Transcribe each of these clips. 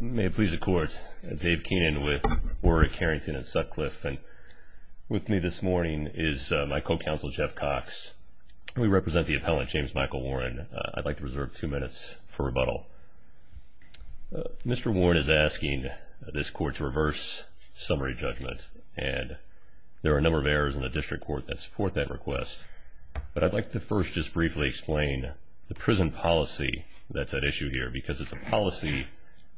May it please the Court, Dave Keenan with Warwick, Carrington, and Sutcliffe, and with me this morning is my co-counsel Jeff Cox. We represent the appellant, James Michael Warren. I'd like to reserve two minutes for rebuttal. Mr. Warren is asking this Court to reverse summary judgment, and there are a number of errors in the district court that support that request. But I'd like to first just briefly explain the prison policy that's at issue here, because it's a policy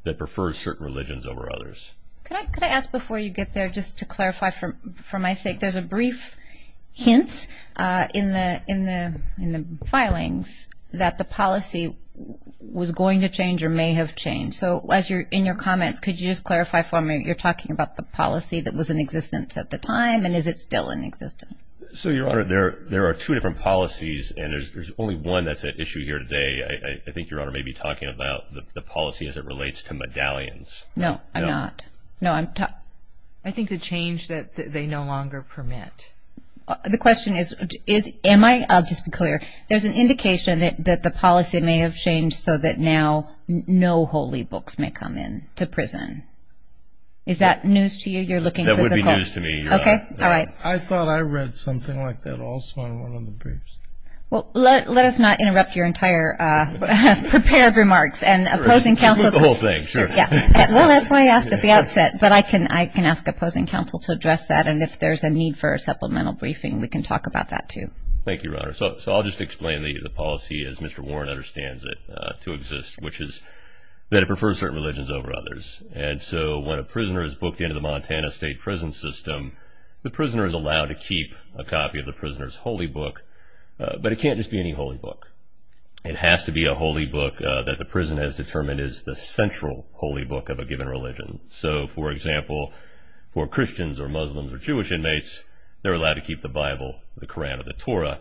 that prefers certain religions over others. Could I ask before you get there, just to clarify for my sake, there's a brief hint in the filings that the policy was going to change or may have changed. So in your comments, could you just clarify for me, you're talking about the policy that was in existence at the time, and is it still in existence? So, Your Honor, there are two different policies, and there's only one that's at issue here today. I think Your Honor may be talking about the policy as it relates to medallions. No, I'm not. I think the change that they no longer permit. The question is, am I, I'll just be clear, there's an indication that the policy may have changed so that now no holy books may come in to prison. Is that news to you? You're looking physical. That would be news to me, Your Honor. Okay, all right. I thought I read something like that also in one of the briefs. Well, let us not interrupt your entire prepared remarks, and opposing counsel. Sure. Well, that's why I asked at the outset. But I can ask opposing counsel to address that, and if there's a need for a supplemental briefing, we can talk about that, too. Thank you, Your Honor. So I'll just explain the policy as Mr. Warren understands it to exist, which is that it prefers certain religions over others. And so when a prisoner is booked into the Montana state prison system, the prisoner is allowed to keep a copy of the prisoner's holy book. But it can't just be any holy book. It has to be a holy book that the prison has determined is the central holy book of a given religion. So, for example, for Christians or Muslims or Jewish inmates, they're allowed to keep the Bible, the Koran, or the Torah.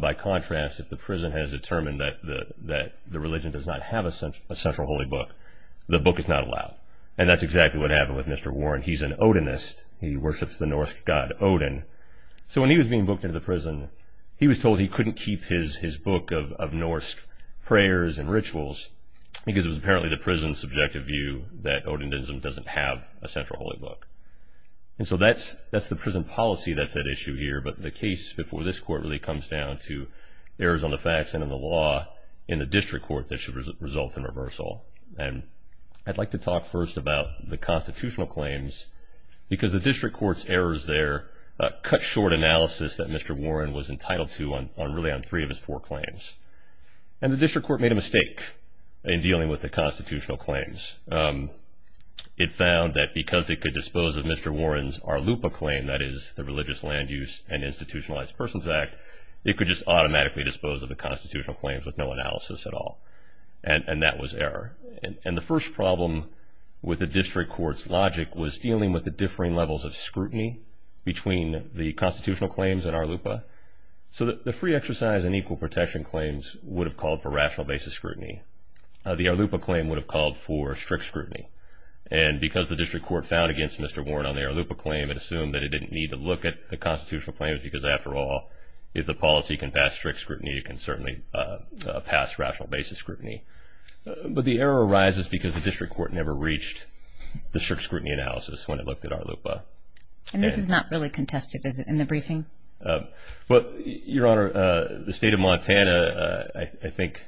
By contrast, if the prison has determined that the religion does not have a central holy book, the book is not allowed. And that's exactly what happened with Mr. Warren. He's an Odinist. He worships the Norse god Odin. So when he was being booked into the prison, he was told he couldn't keep his book of Norse prayers and rituals because it was apparently the prison's subjective view that Odinism doesn't have a central holy book. And so that's the prison policy that's at issue here. But the case before this court really comes down to errors on the facts and on the law in the district court that should result in reversal. And I'd like to talk first about the constitutional claims because the district court's errors there cut short analysis that Mr. Warren was entitled to on really on three of his four claims. And the district court made a mistake in dealing with the constitutional claims. It found that because it could dispose of Mr. Warren's Arlupa claim, that is the Religious Land Use and Institutionalized Persons Act, it could just automatically dispose of the constitutional claims with no analysis at all. And that was error. And the first problem with the district court's logic was dealing with the differing levels of scrutiny between the constitutional claims and Arlupa. So the free exercise and equal protection claims would have called for rational basis scrutiny. The Arlupa claim would have called for strict scrutiny. And because the district court found against Mr. Warren on the Arlupa claim, it assumed that it didn't need to look at the constitutional claims because, after all, if the policy can pass strict scrutiny, it can certainly pass rational basis scrutiny. But the error arises because the district court never reached the strict scrutiny analysis when it looked at Arlupa. And this is not really contested, is it, in the briefing? Well, Your Honor, the State of Montana, I think,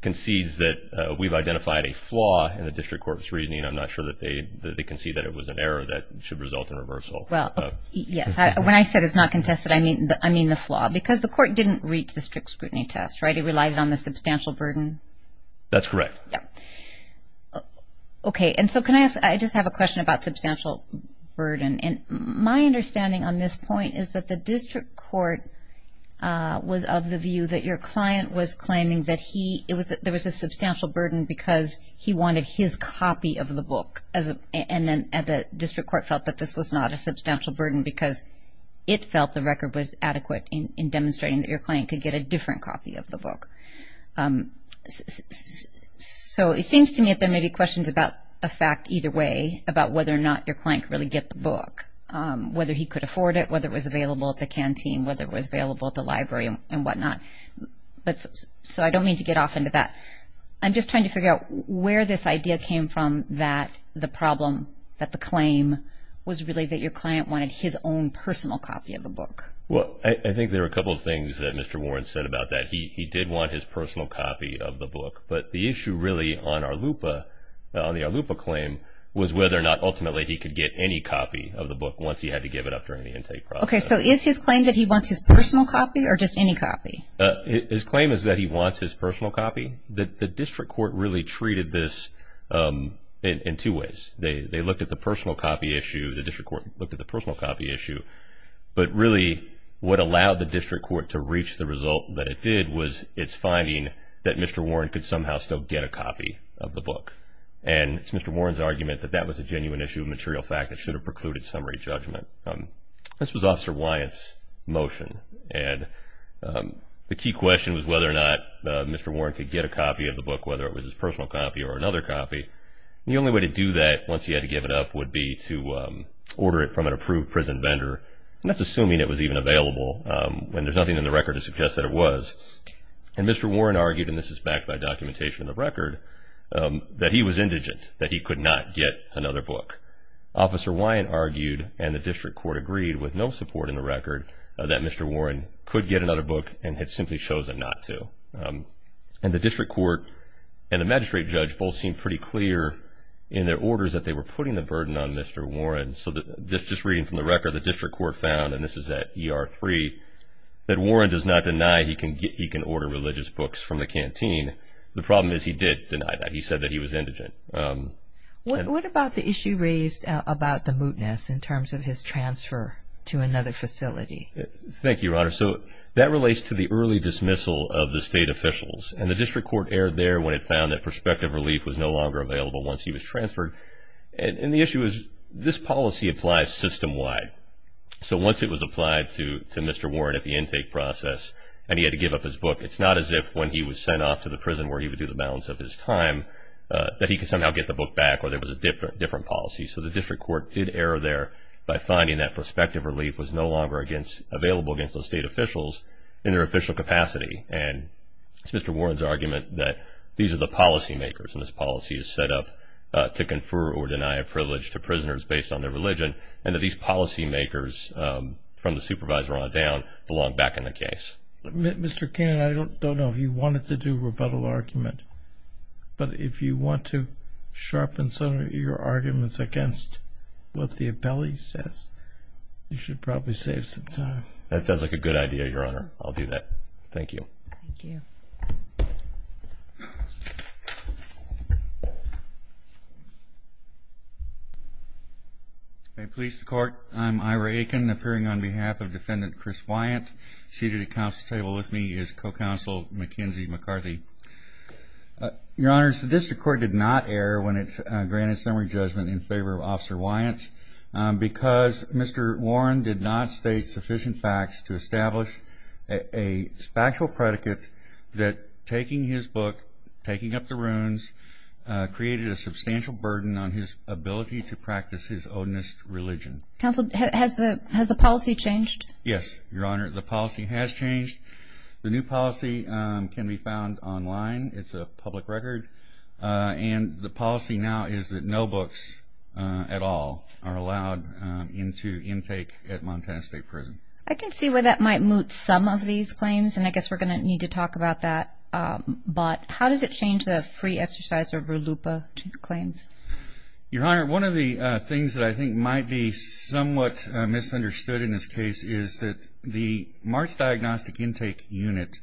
concedes that we've identified a flaw in the district court's reasoning. I'm not sure that they concede that it was an error that should result in reversal. Well, yes. When I said it's not contested, I mean the flaw. Because the court didn't reach the strict scrutiny test, right? It relied on the substantial burden. That's correct. Yeah. Okay. And so can I ask, I just have a question about substantial burden. And my understanding on this point is that the district court was of the view that your client was claiming that there was a substantial burden because he wanted his copy of the book. And then the district court felt that this was not a substantial burden because it felt the record was adequate in demonstrating that your client could get a different copy of the book. So it seems to me that there may be questions about a fact either way, about whether or not your client could really get the book, whether he could afford it, whether it was available at the canteen, whether it was available at the library and whatnot. So I don't mean to get off into that. I'm just trying to figure out where this idea came from that the problem, that the claim was really that your client wanted his own personal copy of the book. Well, I think there are a couple of things that Mr. Warren said about that. He did want his personal copy of the book. But the issue really on the Arlupa claim was whether or not ultimately he could get any copy of the book once he had to give it up during the intake process. Okay. So is his claim that he wants his personal copy or just any copy? His claim is that he wants his personal copy. The district court really treated this in two ways. They looked at the personal copy issue. The district court looked at the personal copy issue. But really what allowed the district court to reach the result that it did was its finding that Mr. Warren could somehow still get a copy of the book. And it's Mr. Warren's argument that that was a genuine issue of material fact. It should have precluded summary judgment. This was Officer Wyatt's motion. And the key question was whether or not Mr. Warren could get a copy of the book, whether it was his personal copy or another copy. The only way to do that once he had to give it up would be to order it from an approved prison vendor. And that's assuming it was even available. And there's nothing in the record to suggest that it was. And Mr. Warren argued, and this is backed by documentation in the record, that he was indigent, that he could not get another book. Officer Wyatt argued, and the district court agreed with no support in the record, that Mr. Warren could get another book and had simply chosen not to. And the district court and the magistrate judge both seemed pretty clear in their orders that they were putting the burden on Mr. Warren. So just reading from the record, the district court found, and this is at ER 3, that Warren does not deny he can order religious books from the canteen. The problem is he did deny that. He said that he was indigent. What about the issue raised about the mootness in terms of his transfer to another facility? Thank you, Your Honor. So that relates to the early dismissal of the state officials. And the district court erred there when it found that prospective relief was no longer available once he was transferred. And the issue is this policy applies system-wide. So once it was applied to Mr. Warren at the intake process and he had to give up his book, it's not as if when he was sent off to the prison where he would do the balance of his time that he could somehow get the book back or there was a different policy. So the district court did err there by finding that prospective relief was no longer available against the state officials in their official capacity. And it's Mr. Warren's argument that these are the policy makers, and this policy is set up to confer or deny a privilege to prisoners based on their religion, and that these policy makers from the supervisor on down belong back in the case. Mr. Keenan, I don't know if you wanted to do rebuttal argument, but if you want to sharpen some of your arguments against what the appellee says, you should probably save some time. That sounds like a good idea, Your Honor. I'll do that. Thank you. Thank you. Police to court. I'm Ira Aiken, appearing on behalf of Defendant Chris Wyatt. Seated at the council table with me is Co-Counsel Mackenzie McCarthy. Your Honors, the district court did not err when it granted summary judgment in favor of Officer Wyatt because Mr. Warren did not state sufficient facts to establish a factual predicate that taking his book, taking up the runes, created a substantial burden on his ability to practice his onus religion. Counsel, has the policy changed? Yes, Your Honor, the policy has changed. The new policy can be found online. It's a public record. And the policy now is that no books at all are allowed into intake at Montana State Prison. I can see where that might moot some of these claims, and I guess we're going to need to talk about that. But how does it change the free exercise over LUPA claims? Your Honor, one of the things that I think might be somewhat misunderstood in this case is that the March Diagnostic Intake Unit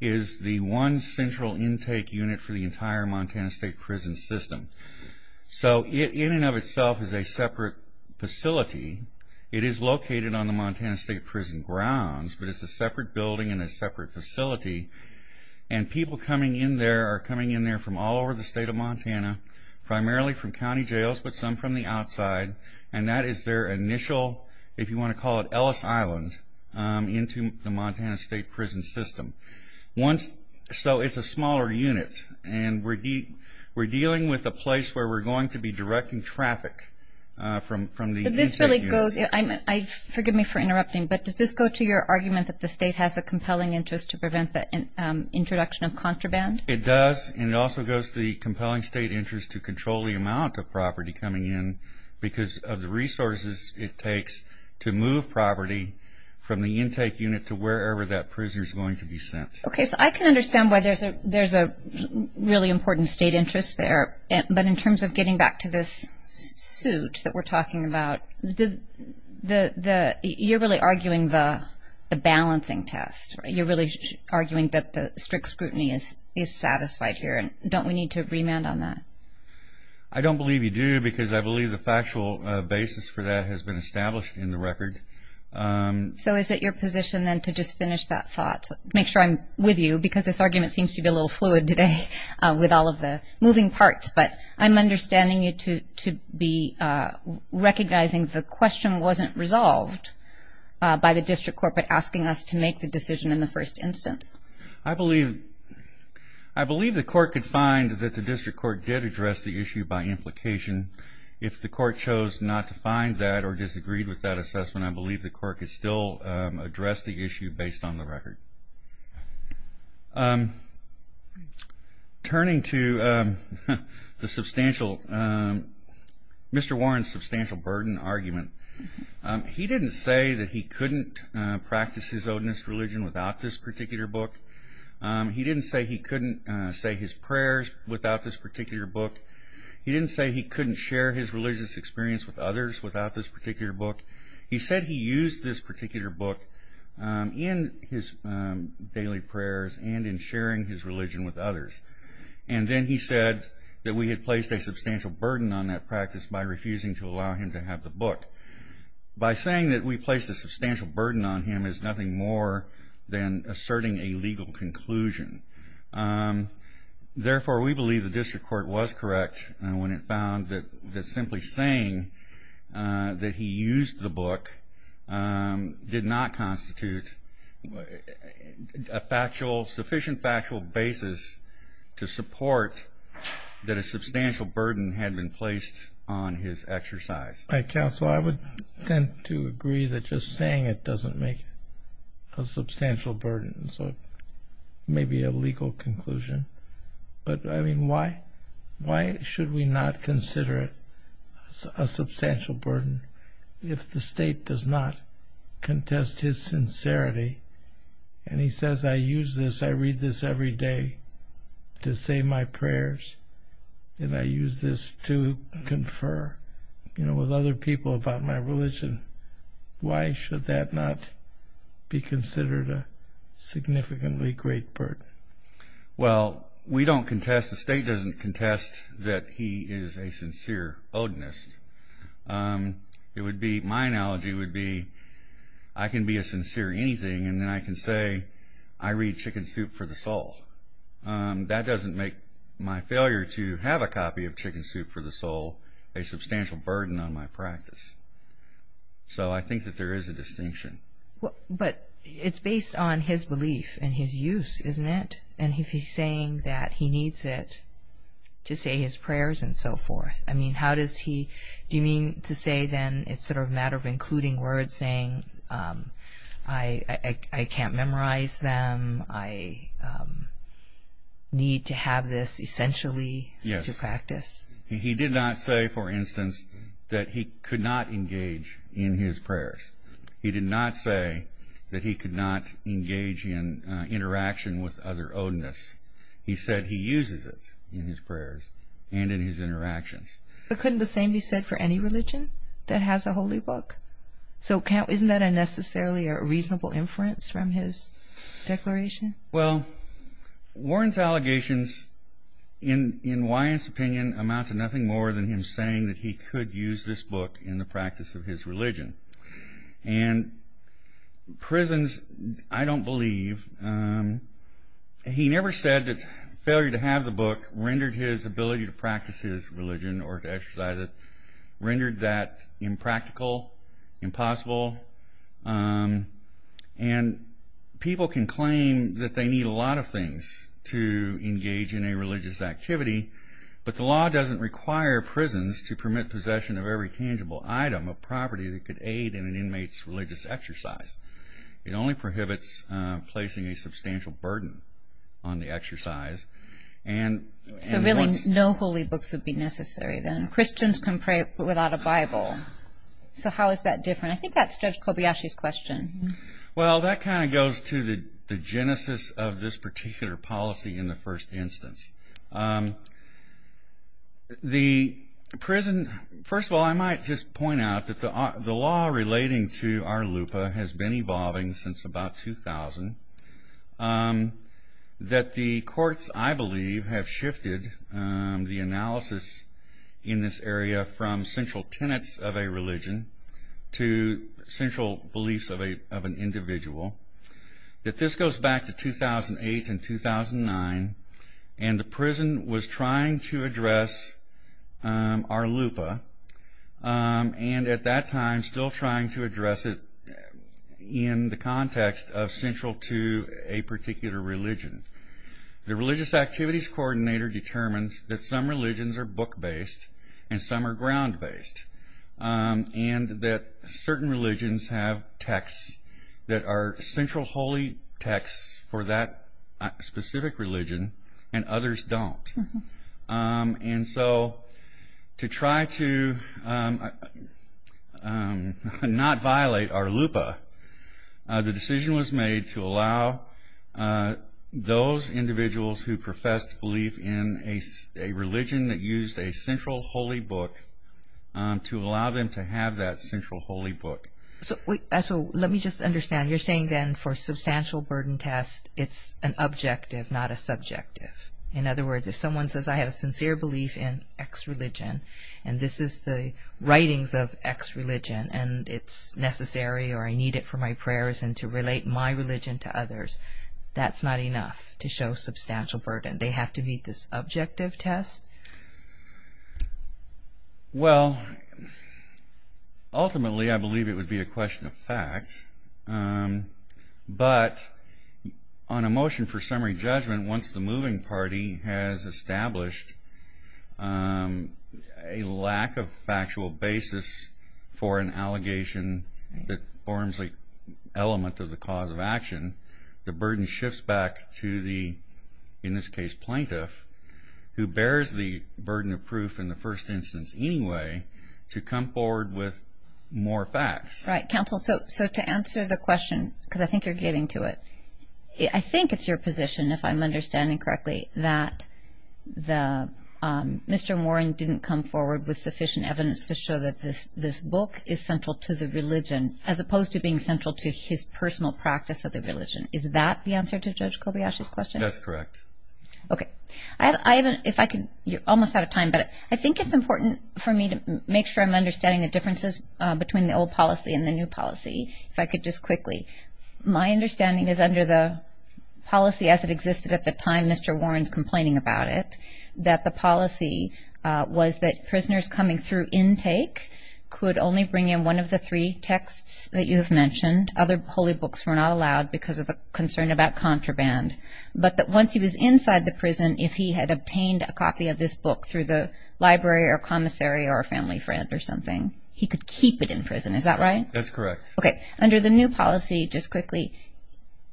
is the one central intake unit for the entire Montana State Prison system. So it in and of itself is a separate facility. It is located on the Montana State Prison grounds, but it's a separate building and a separate facility. And people coming in there are coming in there from all over the state of Montana, primarily from county jails, but some from the outside. And that is their initial, if you want to call it Ellis Island, into the Montana State Prison system. So it's a smaller unit, and we're dealing with a place where we're going to be directing traffic from the intake unit. Forgive me for interrupting, but does this go to your argument that the state has a compelling interest to prevent the introduction of contraband? It does, and it also goes to the compelling state interest to control the amount of property coming in because of the resources it takes to move property from the intake unit to wherever that prisoner is going to be sent. Okay, so I can understand why there's a really important state interest there, but in terms of getting back to this suit that we're talking about, you're really arguing the balancing test. You're really arguing that the strict scrutiny is satisfied here. Don't we need to remand on that? I don't believe you do because I believe the factual basis for that has been established in the record. So is it your position then to just finish that thought, make sure I'm with you because this argument seems to be a little fluid today with all of the moving parts, but I'm understanding you to be recognizing the question wasn't resolved by the district court, but asking us to make the decision in the first instance. I believe the court could find that the district court did address the issue by implication. If the court chose not to find that or disagreed with that assessment, I believe the court could still address the issue based on the record. Turning to Mr. Warren's substantial burden argument, he didn't say that he couldn't practice his Odinist religion without this particular book. He didn't say he couldn't say his prayers without this particular book. He didn't say he couldn't share his religious experience with others without this particular book. He said he used this particular book in his daily prayers and in sharing his religion with others, and then he said that we had placed a substantial burden on that practice by refusing to allow him to have the book. By saying that we placed a substantial burden on him is nothing more than asserting a legal conclusion. Therefore, we believe the district court was correct when it found that simply saying that he used the book did not constitute a sufficient factual basis to support that a substantial burden had been placed on his exercise. Counsel, I would tend to agree that just saying it doesn't make a substantial burden, so maybe a legal conclusion. But, I mean, why should we not consider it a substantial burden if the state does not contest his sincerity, and he says, I use this, I read this every day to say my prayers, and I use this to confer with other people about my religion. Why should that not be considered a significantly great burden? Well, we don't contest, the state doesn't contest that he is a sincere Odinist. It would be, my analogy would be, I can be a sincere anything, and then I can say I read Chicken Soup for the Soul. That doesn't make my failure to have a copy of Chicken Soup for the Soul a substantial burden on my practice. So I think that there is a distinction. But it's based on his belief and his use, isn't it? And if he's saying that he needs it to say his prayers and so forth, I mean, how does he, do you mean to say, then, it's sort of a matter of including words saying, I can't memorize them, I need to have this essentially to practice? Yes. He did not say, for instance, that he could not engage in his prayers. He did not say that he could not engage in interaction with other Odinists. He said he uses it in his prayers and in his interactions. But couldn't the same be said for any religion that has a holy book? So isn't that necessarily a reasonable inference from his declaration? Well, Warren's allegations, in Wyant's opinion, amount to nothing more than him saying that he could use this book in the practice of his religion. And prisons, I don't believe. He never said that failure to have the book rendered his ability to practice his religion or to exercise it rendered that impractical, impossible. And people can claim that they need a lot of things to engage in a religious activity, but the law doesn't require prisons to permit possession of every aid in an inmate's religious exercise. It only prohibits placing a substantial burden on the exercise. So really no holy books would be necessary then. Christians can pray without a Bible. So how is that different? I think that's Judge Kobayashi's question. Well, that kind of goes to the genesis of this particular policy in the first instance. The prison, first of all, I might just point out that the law relating to our LUPA has been evolving since about 2000. That the courts, I believe, have shifted the analysis in this area from central tenets of a religion to central beliefs of an individual. That this goes back to 2008 and 2009 and the prison was trying to address our LUPA and at that time still trying to address it in the context of central to a particular religion. The religious activities coordinator determined that some religions are book-based and some are ground-based. And that certain religions have texts that are central holy texts for that specific religion and others don't. And so to try to not violate our LUPA, the decision was made to allow those to have that central holy book. So let me just understand, you're saying then for substantial burden test, it's an objective, not a subjective. In other words, if someone says, I have a sincere belief in X religion and this is the writings of X religion and it's necessary or I need it for my prayers and to relate my religion to others, that's not enough to show substantial burden. They have to meet this objective test? Well, ultimately I believe it would be a question of fact. But on a motion for summary judgment, once the moving party has established a lack of factual basis for an allegation that forms an element of the cause of action, the burden shifts back to the, in this case, plaintiff who bears the burden of proof in the first instance anyway to come forward with more facts. Right. Counsel, so to answer the question, because I think you're getting to it, I think it's your position, if I'm understanding correctly, that Mr. Moran didn't come forward with sufficient evidence to show that this book is central to the religion as opposed to being central to his personal practice of the religion. Is that the answer to Judge Kobayashi's question? That's correct. Okay. I haven't, if I could, you're almost out of time, but I think it's important for me to make sure I'm understanding the differences between the old policy and the new policy, if I could just quickly. My understanding is under the policy as it existed at the time, Mr. Moran's complaining about it, that the policy was that prisoners coming through intake could only bring in one of the three texts that you have mentioned. Other holy books were not allowed because of the concern about contraband. But that once he was inside the prison, if he had obtained a copy of this book through the library or commissary or a family friend or something, he could keep it in prison. Is that right? That's correct. Okay. Under the new policy, just quickly,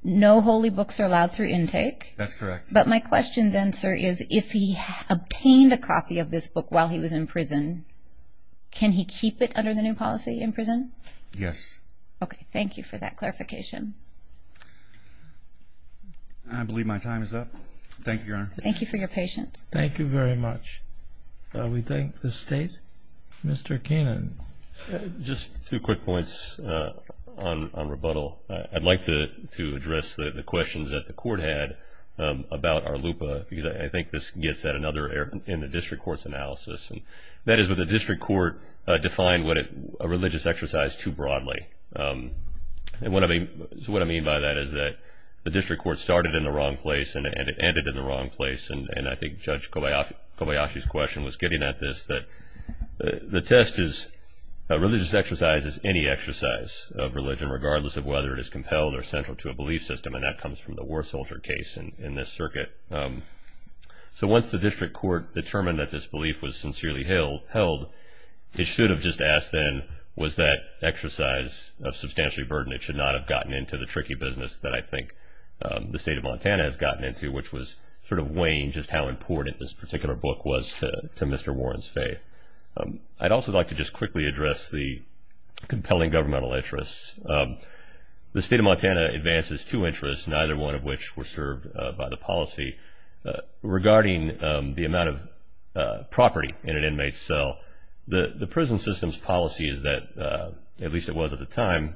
no holy books are allowed through intake. That's correct. But my question then, sir, is if he obtained a copy of this book while he was in prison, can he keep it under the new policy in prison? Yes. Okay. Thank you for that clarification. I believe my time is up. Thank you, Your Honor. Thank you for your patience. Thank you very much. We thank the State. Mr. Keenan. Just two quick points on rebuttal. I'd like to address the questions that the Court had about our LUPA because I think this gets at another error in the District Court's analysis, and that is that the District Court defined a religious exercise too broadly. So what I mean by that is that the District Court started in the wrong place and it ended in the wrong place. And I think Judge Kobayashi's question was getting at this, that the test is a religious exercise is any exercise of religion regardless of whether it is compelled or central to a belief system, and that comes from the war soldier case in this circuit. So once the District Court determined that this belief was sincerely held, it should have just asked then, was that exercise of substantially burdened? It should not have gotten into the tricky business that I think the State of Montana has gotten into, which was sort of weighing just how important this particular book was to Mr. Warren's faith. I'd also like to just quickly address the compelling governmental interests. The State of Montana advances two interests, neither one of which were served by the policy. Regarding the amount of property in an inmate's cell, the prison system's policy is that, at least it was at the time,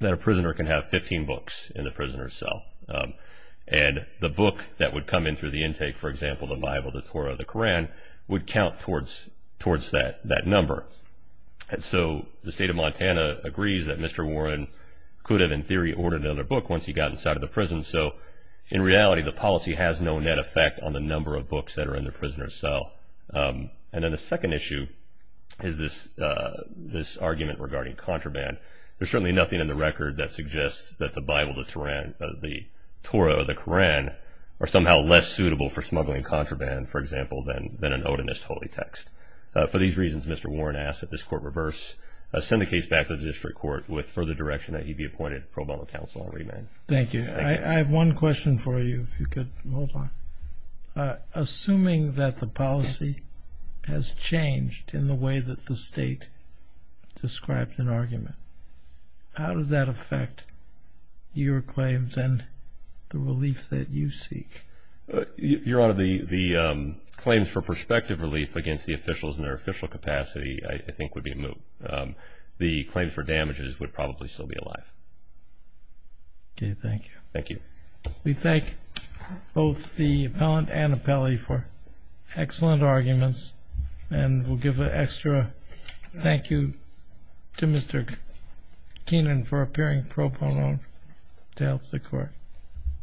that a prisoner can have 15 books in the prisoner's cell. And the book that would come in through the intake, for example, the Bible, the Torah, the Koran, would count towards that number. And so the State of Montana agrees that Mr. Warren could have in theory ordered another book once he got inside of the prison. And so, in reality, the policy has no net effect on the number of books that are in the prisoner's cell. And then the second issue is this argument regarding contraband. There's certainly nothing in the record that suggests that the Bible, the Torah, or the Koran are somehow less suitable for smuggling contraband, for example, than an Odinist holy text. For these reasons, Mr. Warren asks that this court reverse, send the case back to the district court with further direction that he be appointed pro bono counsel and remand. Thank you. I have one question for you, if you could hold on. Assuming that the policy has changed in the way that the State described an argument, how does that affect your claims and the relief that you seek? Your Honor, the claims for prospective relief against the officials in their official capacity I think would be moot. The claims for damages would probably still be alive. Okay, thank you. Thank you. We thank both the appellant and appellee for excellent arguments, and we'll give an extra thank you to Mr. Keenan for appearing pro bono to help the court.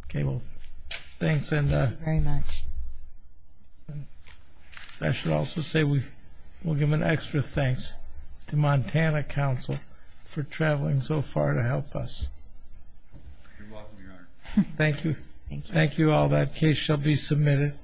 Okay, well, thanks. Thank you very much. I should also say we'll give an extra thanks to Montana Council for traveling so far to help us. You're welcome, Your Honor. Thank you. Thank you all. That case shall be submitted.